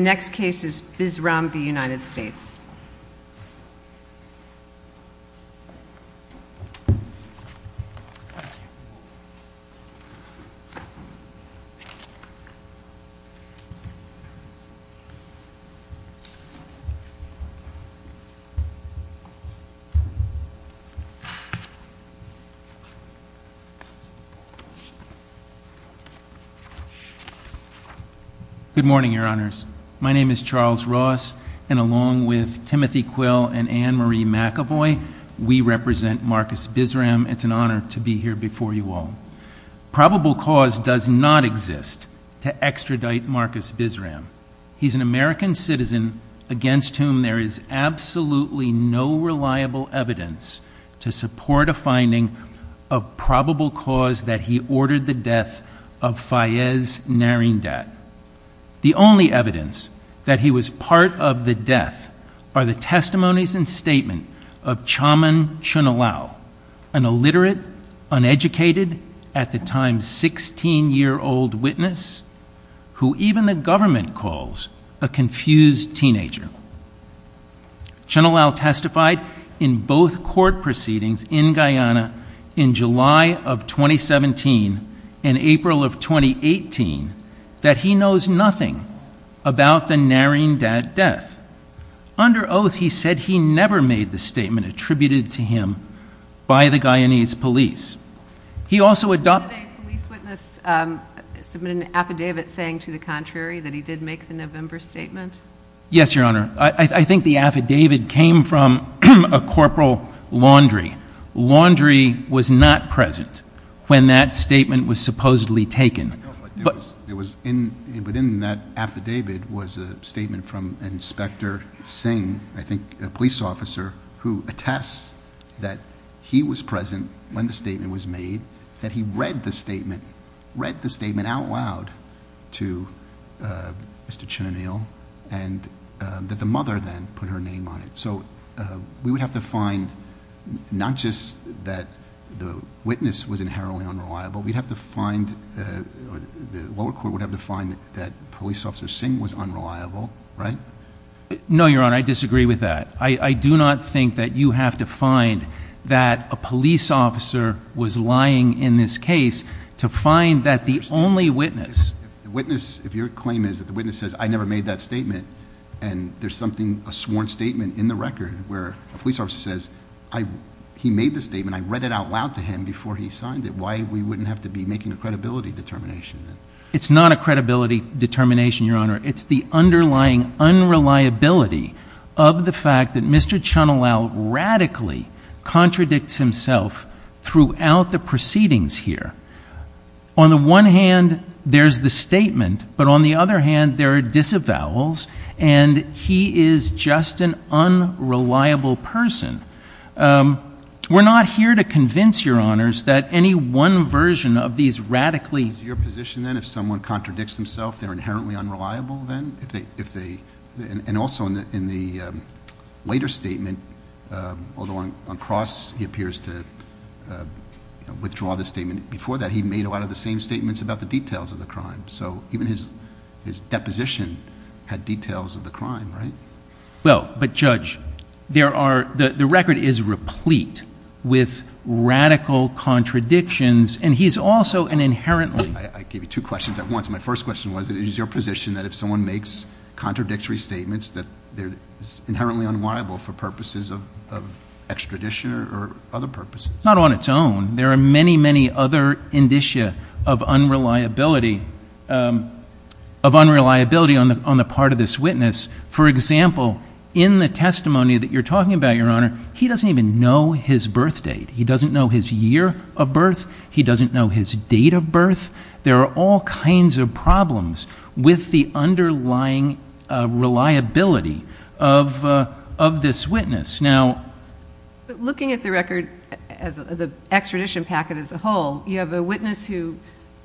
The next case is Bisram v. United States. Good morning, your honors. My name is Charles Ross, and along with Timothy Quill and Anne-Marie McAvoy, we represent Marcus Bisram. It's an honor to be here before you all. Probable cause does not exist to extradite Marcus Bisram. He's an American citizen against whom there is absolutely no reliable evidence to support a finding of probable cause that he ordered the death of Fayez Narindat. The only evidence that he was part of the death are the testimonies and statement of Chaman Chunalau, an illiterate, uneducated, at the time 16-year-old witness, who even the government calls a confused teenager. Chunalau testified in both court proceedings in Guyana in July of 2017 and April of 2018 that he knows nothing about the Narindat death. Under oath, he said he never made the statement attributed to him by the Guyanese police. He also adopted- Was it a police witness submitting an affidavit saying to the contrary that he did make the November statement? Yes, your honor. I think the affidavit came from a corporal Laundrie. Laundrie was not present when that statement was supposedly taken. Within that affidavit was a statement from Inspector Singh, I think a police officer, who attests that he was present when the statement was made, that he read the statement, read the statement out loud to Mr. Chunalau, and that the mother then put her name on it. We would have to find not just that the witness was inherently unreliable, we'd have to find, the lower court would have to find that police officer Singh was unreliable, right? No, your honor. I disagree with that. I do not think that you have to find that a police officer was lying in this case to find that the only witness- If your claim is that the witness says, I never made that statement, and there's something, a sworn statement in the record where a police officer says, he made the statement, I read it out loud to him before he signed it, why we wouldn't have to be making a credibility determination? It's not a credibility determination, your honor. It's the underlying unreliability of the fact that Mr. Chunalau radically contradicts himself throughout the proceedings here. On the one hand, there's the statement, but on the other hand, there are disavowals, and he is just an unreliable person. We're not here to convince your honors that any one version of these radically- Is your position then, if someone contradicts themselves, they're inherently unreliable then? If they, and also in the later statement, although on cross, he appears to withdraw the statement, before that, he made a lot of the same statements about the details of the crime. So even his deposition had details of the crime, right? Well, but judge, the record is replete with radical contradictions, and he's also an inherently- I gave you two questions at once. My first question was, it is your position that if someone makes contradictory statements that they're inherently unliable for purposes of extradition or other purposes? Not on its own. There are many, many other indicia of unreliability on the part of this witness. For example, in the testimony that you're talking about, your honor, he doesn't even know his birth date. He doesn't know his year of birth. He doesn't know his date of birth. There are all kinds of problems with the underlying reliability of this witness. Now- But looking at the record, the extradition packet as a whole, you have a witness who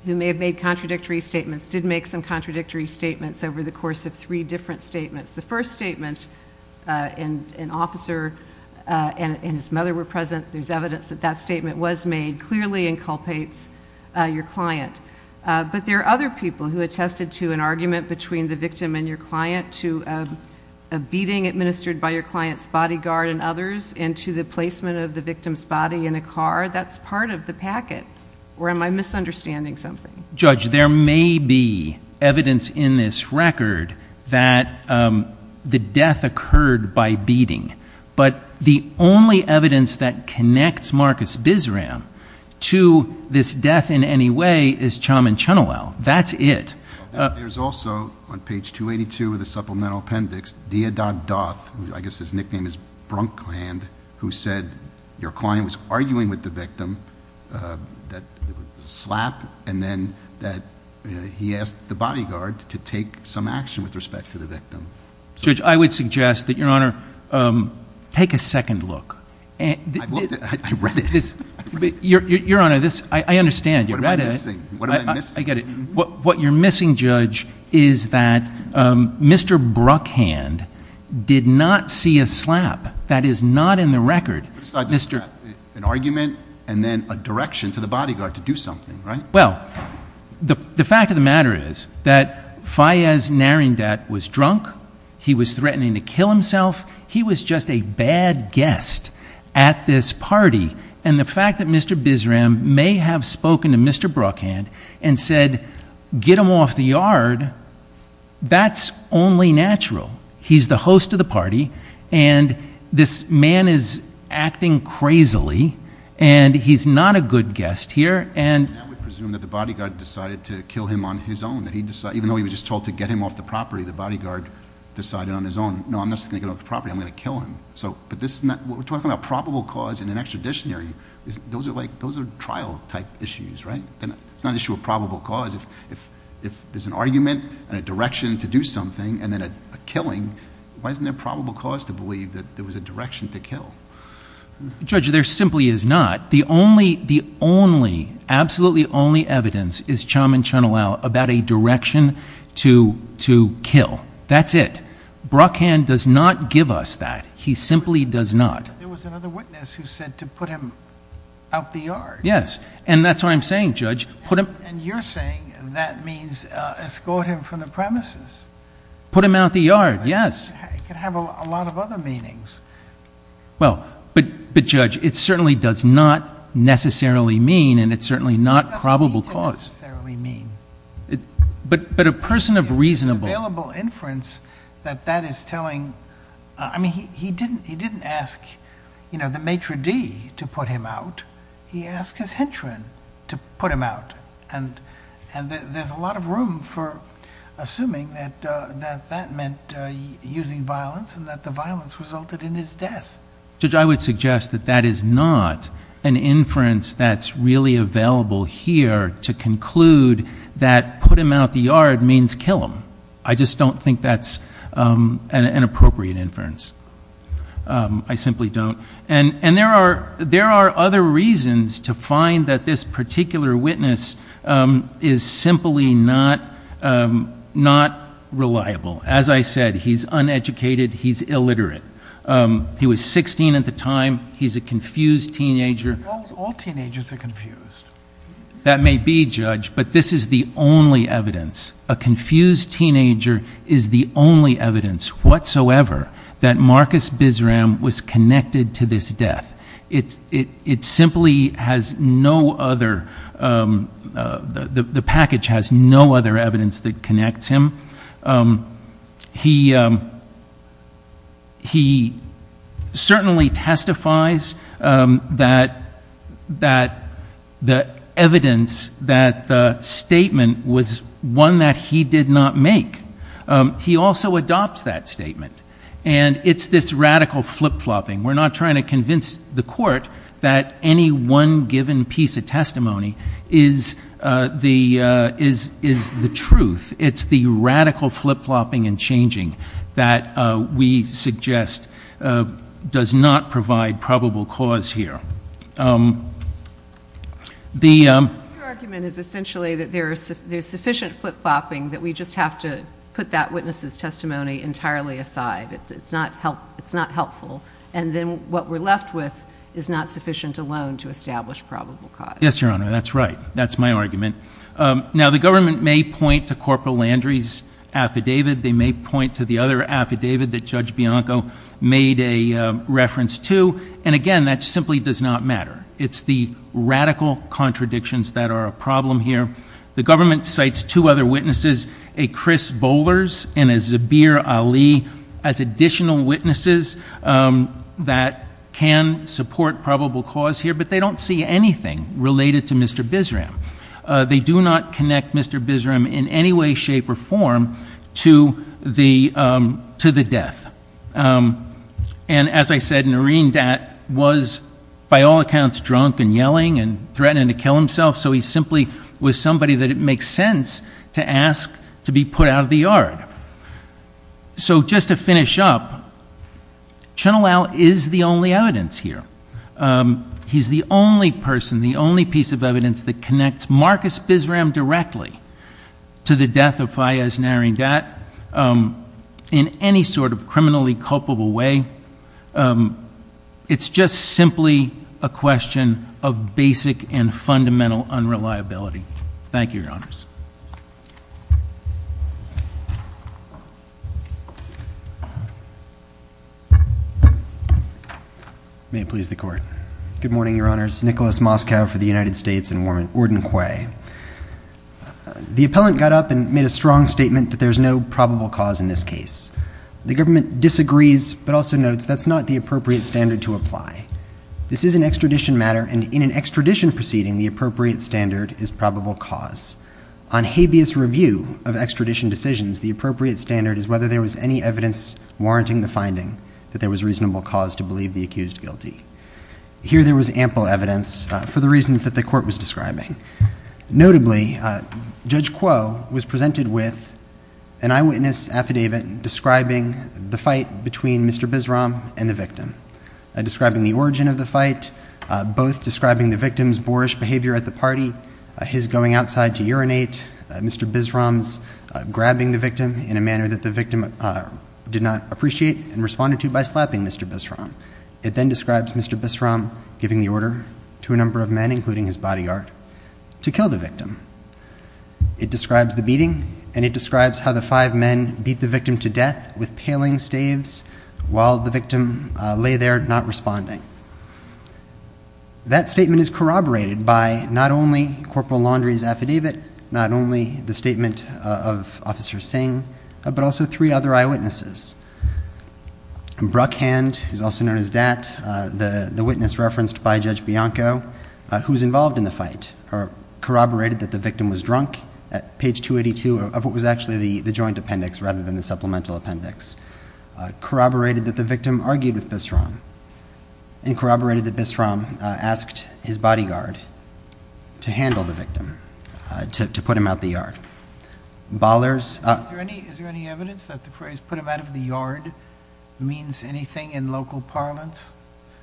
may have made contradictory statements, did make some contradictory statements over the record. The first statement, an officer and his mother were present, there's evidence that that statement was made, clearly inculpates your client. But there are other people who attested to an argument between the victim and your client, to a beating administered by your client's bodyguard and others, and to the placement of the victim's body in a car. That's part of the packet, or am I misunderstanding something? Judge, there may be evidence in this record that the death occurred by beating, but the only evidence that connects Marcus Bisram to this death in any way is Chaman Chunowel. That's it. There's also, on page 282 of the supplemental appendix, Deodog Doth, I guess his nickname is Brunkland, who said your client was arguing with the victim, that it was a slap, and then he asked the bodyguard to take some action with respect to the victim. Judge, I would suggest that your Honor, take a second look. I read it. Your Honor, I understand. What am I missing? What am I missing? I get it. What you're missing, Judge, is that Mr. Bruckhand did not see a slap. That is not in the record. An argument, and then a direction to the bodyguard to do something, right? Well, the fact of the matter is that Fayez Narindat was drunk. He was threatening to kill himself. He was just a bad guest at this party, and the fact that Mr. Bisram may have spoken to Mr. Bruckhand and said, get him off the yard, that's only natural. He's the host of the party, and this man is acting crazily, and he's not a good guest here. I would presume that the bodyguard decided to kill him on his own, that even though he was just told to get him off the property, the bodyguard decided on his own, no, I'm not just going to get him off the property. I'm going to kill him. What we're talking about, probable cause and an extraditionary, those are trial-type issues, right? It's not an issue of probable cause. If there's an argument and a direction to do something and then a killing, why isn't there a probable cause to believe that there was a direction to kill? Judge, there simply is not. The only, the only, absolutely only evidence is Chum and Chunalau about a direction to kill. That's it. Bruckhand does not give us that. He simply does not. There was another witness who said to put him out the yard. Yes, and that's what I'm saying, Judge. You're saying that means escort him from the premises. Put him out the yard, yes. It could have a lot of other meanings. Well, but, but Judge, it certainly does not necessarily mean, and it's certainly not probable cause, but, but a person of reasonable inference that that is telling, I mean, he, he didn't, he didn't ask, you know, the maitre d' to put him out. He asked his henchman to put him out and, and there's a lot of room for assuming that, that, that meant using violence and that the violence resulted in his death. Judge, I would suggest that that is not an inference that's really available here to conclude that put him out the yard means kill him. I just don't think that's an appropriate inference. I simply don't, and, and there are, there are other reasons to find that this particular witness is simply not, not reliable. As I said, he's uneducated. He's illiterate. He was 16 at the time. He's a confused teenager. All teenagers are confused. That may be, Judge, but this is the only evidence, a confused teenager is the only evidence whatsoever that Marcus Bisram was connected to this death. It's, it, it simply has no other the, the package has no other evidence that connects him. He, he certainly testifies that, that the evidence that the statement was one that he did not make. He also adopts that statement. And it's this radical flip-flopping. We're not trying to convince the court that any one given piece of testimony is the, is, is the truth. It's the radical flip-flopping and changing that we suggest does not provide probable cause here. The argument is essentially that there's sufficient flip-flopping that we just have to put that witness's testimony entirely aside. It's not helpful. And then what we're left with is not sufficient alone to establish probable cause. Yes, Your Honor. That's right. That's my argument. Now, the government may point to Corporal Landry's affidavit. They may point to the other affidavit that Judge Bianco made a reference to. And again, that simply does not matter. It's the radical contradictions that are a problem here. The government cites two other witnesses, a Chris Bowlers and a Zabir Ali as additional witnesses that can support probable cause here, but they don't see anything related to Mr. Bisram. They do not connect Mr. Bisram in any way, shape, or form to the, to the death. And as I said, Nareen Dat was by all accounts drunk and yelling and threatening to kill himself. So he simply was somebody that it makes sense to ask to be put out of the yard. So, just to finish up, Chenoweth is the only evidence here. He's the only person, the only piece of evidence that connects Marcus Bisram directly to the death of Fayez Nareen Dat in any sort of criminally culpable way. It's just simply a question of basic and fundamental unreliability. Thank you, Your Honors. May it please the Court. Good morning, Your Honors. Nicholas Moskow for the United States and Warden Quay. The appellant got up and made a strong statement that there's no probable cause in this case. The government disagrees, but also notes that's not the appropriate standard to apply. This is an extradition matter, and in an extradition proceeding, the appropriate standard is probable cause. On habeas review of extradition decisions, the appropriate standard is whether there was any evidence warranting the finding that there was reasonable cause to believe the accused guilty. Here there was ample evidence for the reasons that the Court was describing. Notably, Judge Quay was presented with an eyewitness affidavit describing the fight between Mr. Bisram and the victim, describing the origin of the fight, both describing the urinate, Mr. Bisram's grabbing the victim in a manner that the victim did not appreciate and responded to by slapping Mr. Bisram. It then describes Mr. Bisram giving the order to a number of men, including his bodyguard, to kill the victim. It describes the beating, and it describes how the five men beat the victim to death with paling staves while the victim lay there not responding. That statement is corroborated by not only Corporal Laundrie's affidavit, not only the statement of Officer Singh, but also three other eyewitnesses. Bruckhand, who is also known as Dat, the witness referenced by Judge Bianco, who was involved in the fight, corroborated that the victim was drunk at page 282 of what was actually the joint appendix rather than the supplemental appendix, corroborated that the victim argued with Bisram, and corroborated that Bisram asked his bodyguard to handle the victim, to put him out of the yard. Is there any evidence that the phrase, put him out of the yard, means anything in local parlance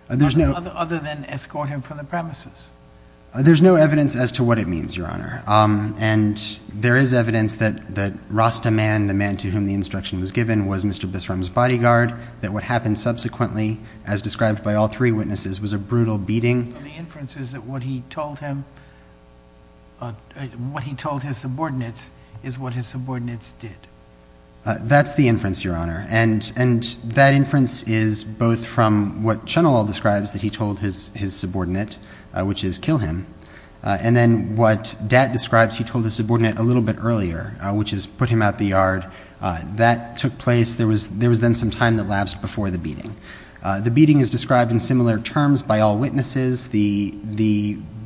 other than escort him from the premises? There's no evidence as to what it means, Your Honor, and there is evidence that Rasta Man, the man to whom the instruction was given, was Mr. Bisram's bodyguard, that what happened subsequently, as described by all three witnesses, was a brutal beating. And the inference is that what he told his subordinates is what his subordinates did? That's the inference, Your Honor, and that inference is both from what Chunilal describes that he told his subordinate, which is kill him, and then what Dat describes, he told his subordinate a little bit earlier, which is put him out of the yard. That took place, there was then some time that lapsed before the beating. The beating is described in similar terms by all witnesses. The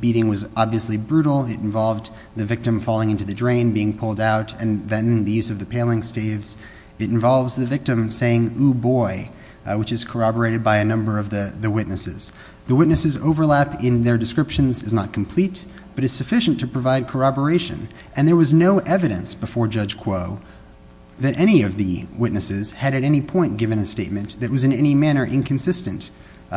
beating was obviously brutal, it involved the victim falling into the drain, being pulled out, and then the use of the paling staves. It involves the victim saying, ooh boy, which is corroborated by a number of the witnesses. The witnesses' overlap in their descriptions is not complete, but it's sufficient to provide corroboration. And there was no evidence before Judge Kuo that any of the witnesses had at any point given a statement that was in any manner inconsistent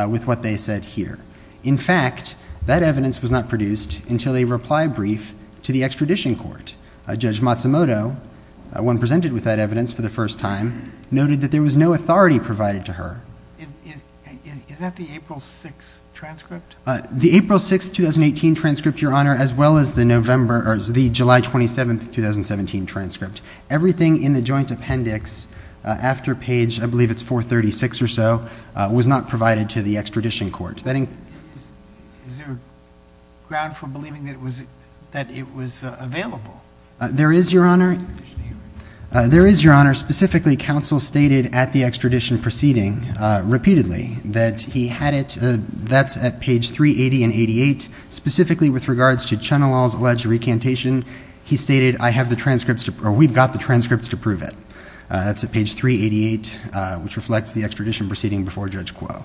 with what they said here. In fact, that evidence was not produced until a reply brief to the extradition court. Judge Matsumoto, when presented with that evidence for the first time, noted that there was no authority provided to her. Is that the April 6th transcript? The April 6th, 2018 transcript, Your Honor, as well as the November, or the July 27th, 2017 transcript. Everything in the joint appendix after page, I believe it's 436 or so, was not provided to the extradition court. Is there ground for believing that it was available? There is, Your Honor. There is, Your Honor. Specifically, counsel stated at the extradition proceeding repeatedly that he had it, that's at page 380 and 88, specifically with regards to Chenelal's alleged recantation, he stated, I have the transcripts, or we've got the transcripts to prove it. That's at page 388, which reflects the extradition proceeding before Judge Kuo.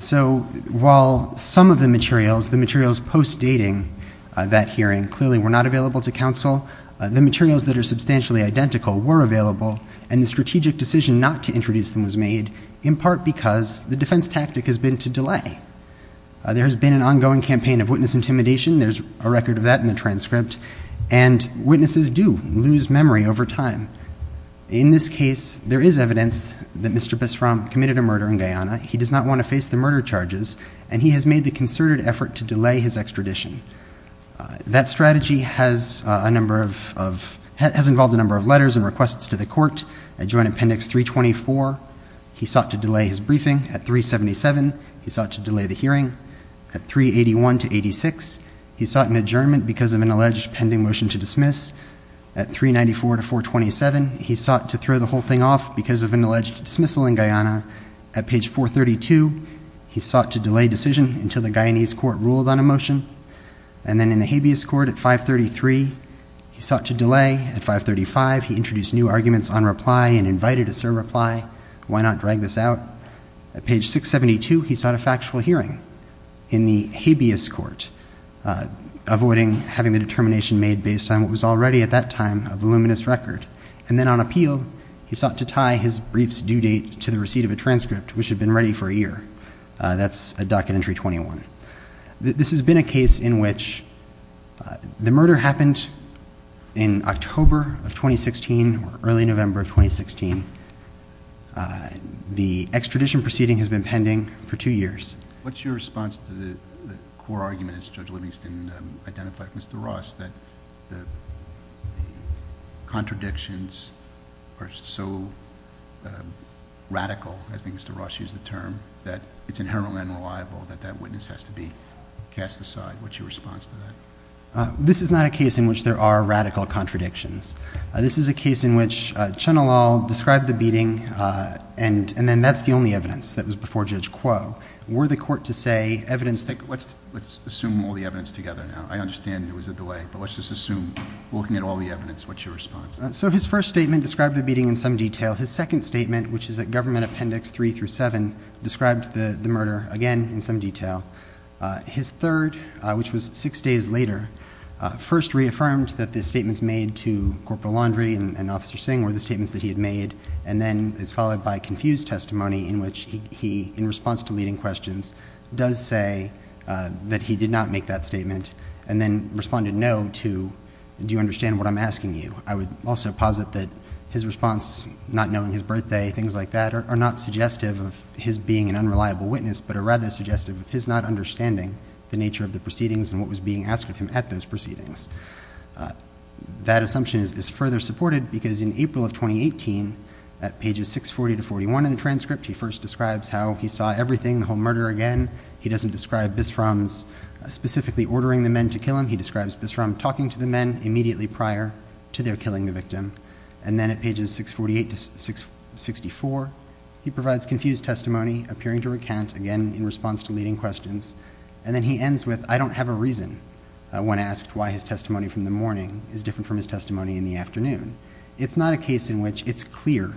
So while some of the materials, the materials post-dating that hearing clearly were not available to counsel, the materials that are substantially identical were available, and the strategic decision not to introduce them was made in part because the defense tactic has been to delay. There's been an ongoing campaign of witness intimidation. There's a record of that in the transcript. And witnesses do lose memory over time. In this case, there is evidence that Mr. Bisram committed a murder in Guyana. He does not want to face the murder charges, and he has made the concerted effort to delay his extradition. That strategy has a number of, has involved a number of letters and requests to the court. At joint appendix 324, he sought to delay his briefing. At 377, he sought to delay the hearing. At 381 to 86, he sought an adjournment because of an alleged pending motion to dismiss. At 394 to 427, he sought to throw the whole thing off because of an alleged dismissal in Guyana. At page 432, he sought to delay decision until the Guyanese court ruled on a motion. And then in the habeas court at 533, he sought to delay. At 535, he introduced new arguments on reply and invited a surreply. Why not drag this out? At page 672, he sought a factual hearing in the habeas court, avoiding having the determination made based on what was already at that time a voluminous record. And then on appeal, he sought to tie his brief's due date to the receipt of a transcript, which had been ready for a year. That's at docket entry 21. This has been a case in which the murder happened in October of 2016 or early November of 2016. The extradition proceeding has been pending for two years. What's your response to the core argument, as Judge Livingston identified with Mr. Ross, that the contradictions are so radical, as Mr. Ross used the term, that it's inherently unreliable that that witness has to be cast aside? What's your response to that? This is not a case in which there are radical contradictions. This is a case in which Chenelal described the beating, and then that's the only evidence that was before Judge Kuo. Were the court to say evidence that... Let's assume all the evidence together now. I understand there was a delay, but let's just assume, looking at all the evidence, what's your response? So his first statement described the beating in some detail. His second statement, which is at government appendix three through seven, described the murder again in some detail. His third, which was six days later, first reaffirmed that the statements made to Corporal Laundrie and Officer Singh were the statements that he had made, and then is followed by confused testimony in which he, in response to leading questions, does say that he did not make that statement, and then responded no to, do you understand what I'm asking you? I would also posit that his response, not knowing his birthday, things like that, are not suggestive of his being an unreliable witness, but are rather suggestive of his not understanding the nature of the proceedings and what was being asked of him at those proceedings. That assumption is further supported because in April of 2018, at pages 640 to 641 in the transcript, he first describes how he saw everything, the whole murder again. He doesn't describe Bisram's specifically ordering the men to kill him. He describes Bisram talking to the men immediately prior to their killing the victim, and then at pages 648 to 664, he provides confused testimony, appearing to recount again in response to leading questions, and then he ends with, I don't have a reason when asked why his testimony from the morning is different from his testimony in the afternoon. It's not a case in which it's clear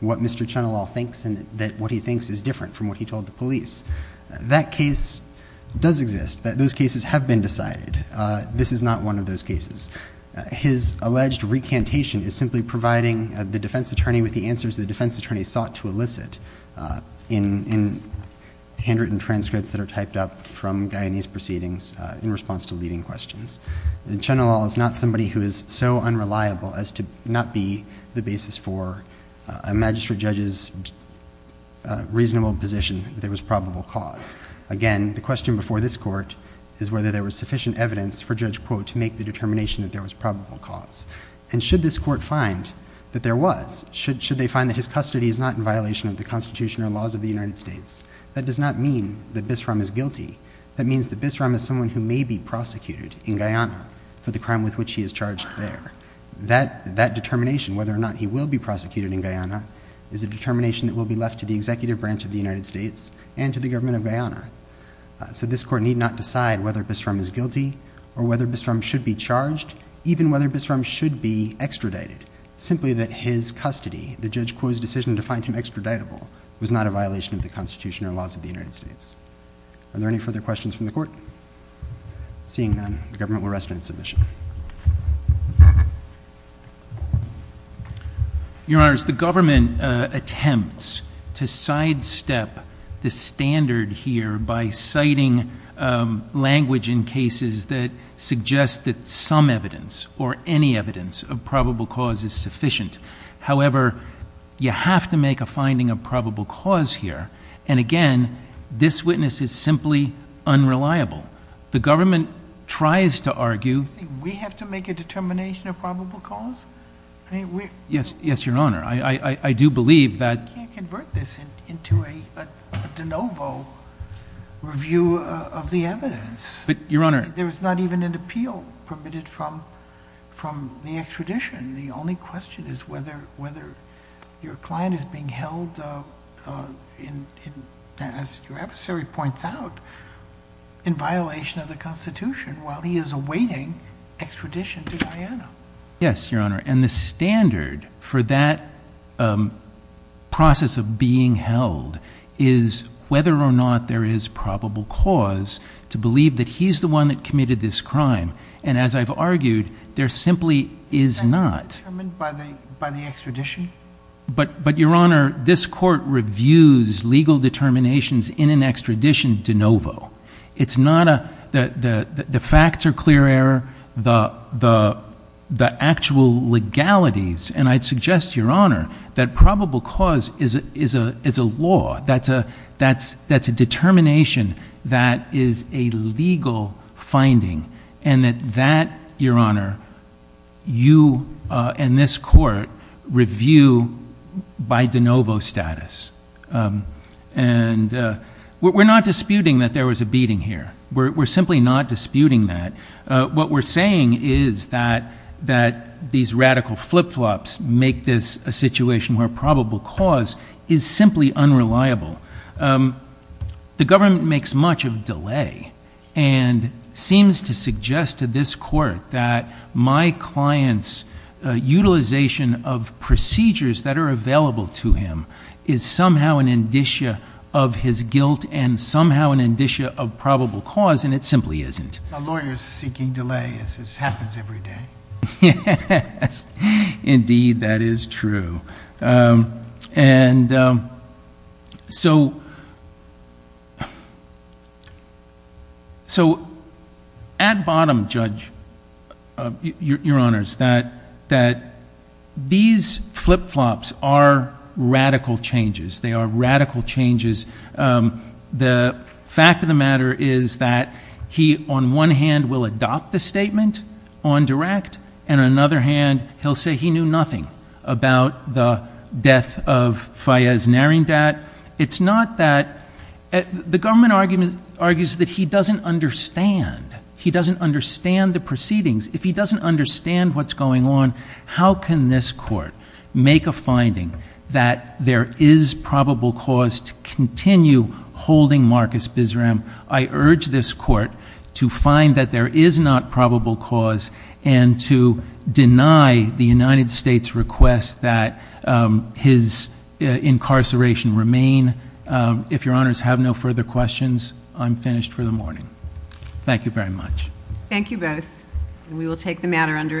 what Mr. Chenelal thinks and that what he thinks is different from what he told the police. That case does exist. Those cases have been decided. This is not one of those cases. His alleged recantation is simply providing the defense attorney with the answers the defense attorney sought to elicit in handwritten transcripts that are typed up from Guyanese proceedings in response to leading questions. And Chenelal is not somebody who is so unreliable as to not be the basis for a magistrate judge's reasonable position that there was probable cause. Again, the question before this court is whether there was sufficient evidence for Judge Quote to make the determination that there was probable cause. And should this court find that there was, should they find that his custody is not in violation of the Constitution or laws of the United States, that does not mean that Bisram is guilty. That means that Bisram is someone who may be prosecuted in Guyana for the crime with which he is charged there. That determination, whether or not he will be prosecuted in Guyana, is a determination that will be left to the executive branch of the United States and to the government of Guyana. So this court need not decide whether Bisram is guilty or whether Bisram should be charged, even whether Bisram should be extradited. Simply that his custody, the Judge Quote's decision to find him extraditable, was not a violation of the Constitution or laws of the United States. Are there any further questions from the court? Seeing none, the government will rest on its submission. Your Honor, the government attempts to sidestep the standard here by citing language in cases that suggest that some evidence or any evidence of probable cause is sufficient. However, you have to make a finding of probable cause here. And again, this witness is simply unreliable. The government tries to argue... Do you think we have to make a determination of probable cause? Yes, Your Honor. I do believe that... You can't convert this into a de novo review of the evidence. But, Your Honor... There is not even an appeal permitted from the extradition. The only question is whether your client is being held, as your adversary points out, in violation of the Constitution while he is awaiting extradition to Guyana. Yes, Your Honor. And the standard for that process of being held is whether or not there is probable cause to believe that he's the one that committed this crime. And as I've argued, there simply is not. Is that determined by the extradition? But, Your Honor, this Court reviews legal determinations in an extradition de novo. It's not a... The facts are clear error. The actual legalities... And I'd suggest, Your Honor, that probable cause is a law. That's a determination that is a legal finding. And that, Your Honor, you and this Court review by de novo status. And we're not disputing that there was a beating here. We're simply not disputing that. What we're saying is that these radical flip-flops make this a situation where probable cause is simply unreliable. The government makes much of delay and seems to suggest to this Court that my client's utilization of procedures that are available to him is somehow an indicia of his guilt and somehow an indicia of probable cause. And it simply isn't. A lawyer is seeking delay as this happens every day. Yes. Indeed, that is true. And so, at bottom, Judge, Your Honors, that these flip-flops are radical changes. They are radical changes. The fact of the matter is that he, on one hand, will adopt the statement on direct, and on another hand, he'll say he knew nothing about the death of Fayez Narendat. It's not that. The government argues that he doesn't understand. He doesn't understand the proceedings. If he doesn't understand what's going on, how can this Court make a finding that there is probable cause to continue holding Marcus Bisram? I urge this Court to find that there is not probable cause and to deny the United States request that his incarceration remain. If Your Honors have no further questions, I'm finished for the morning. Thank you very much. Thank you both. And we will take the matter under advisement.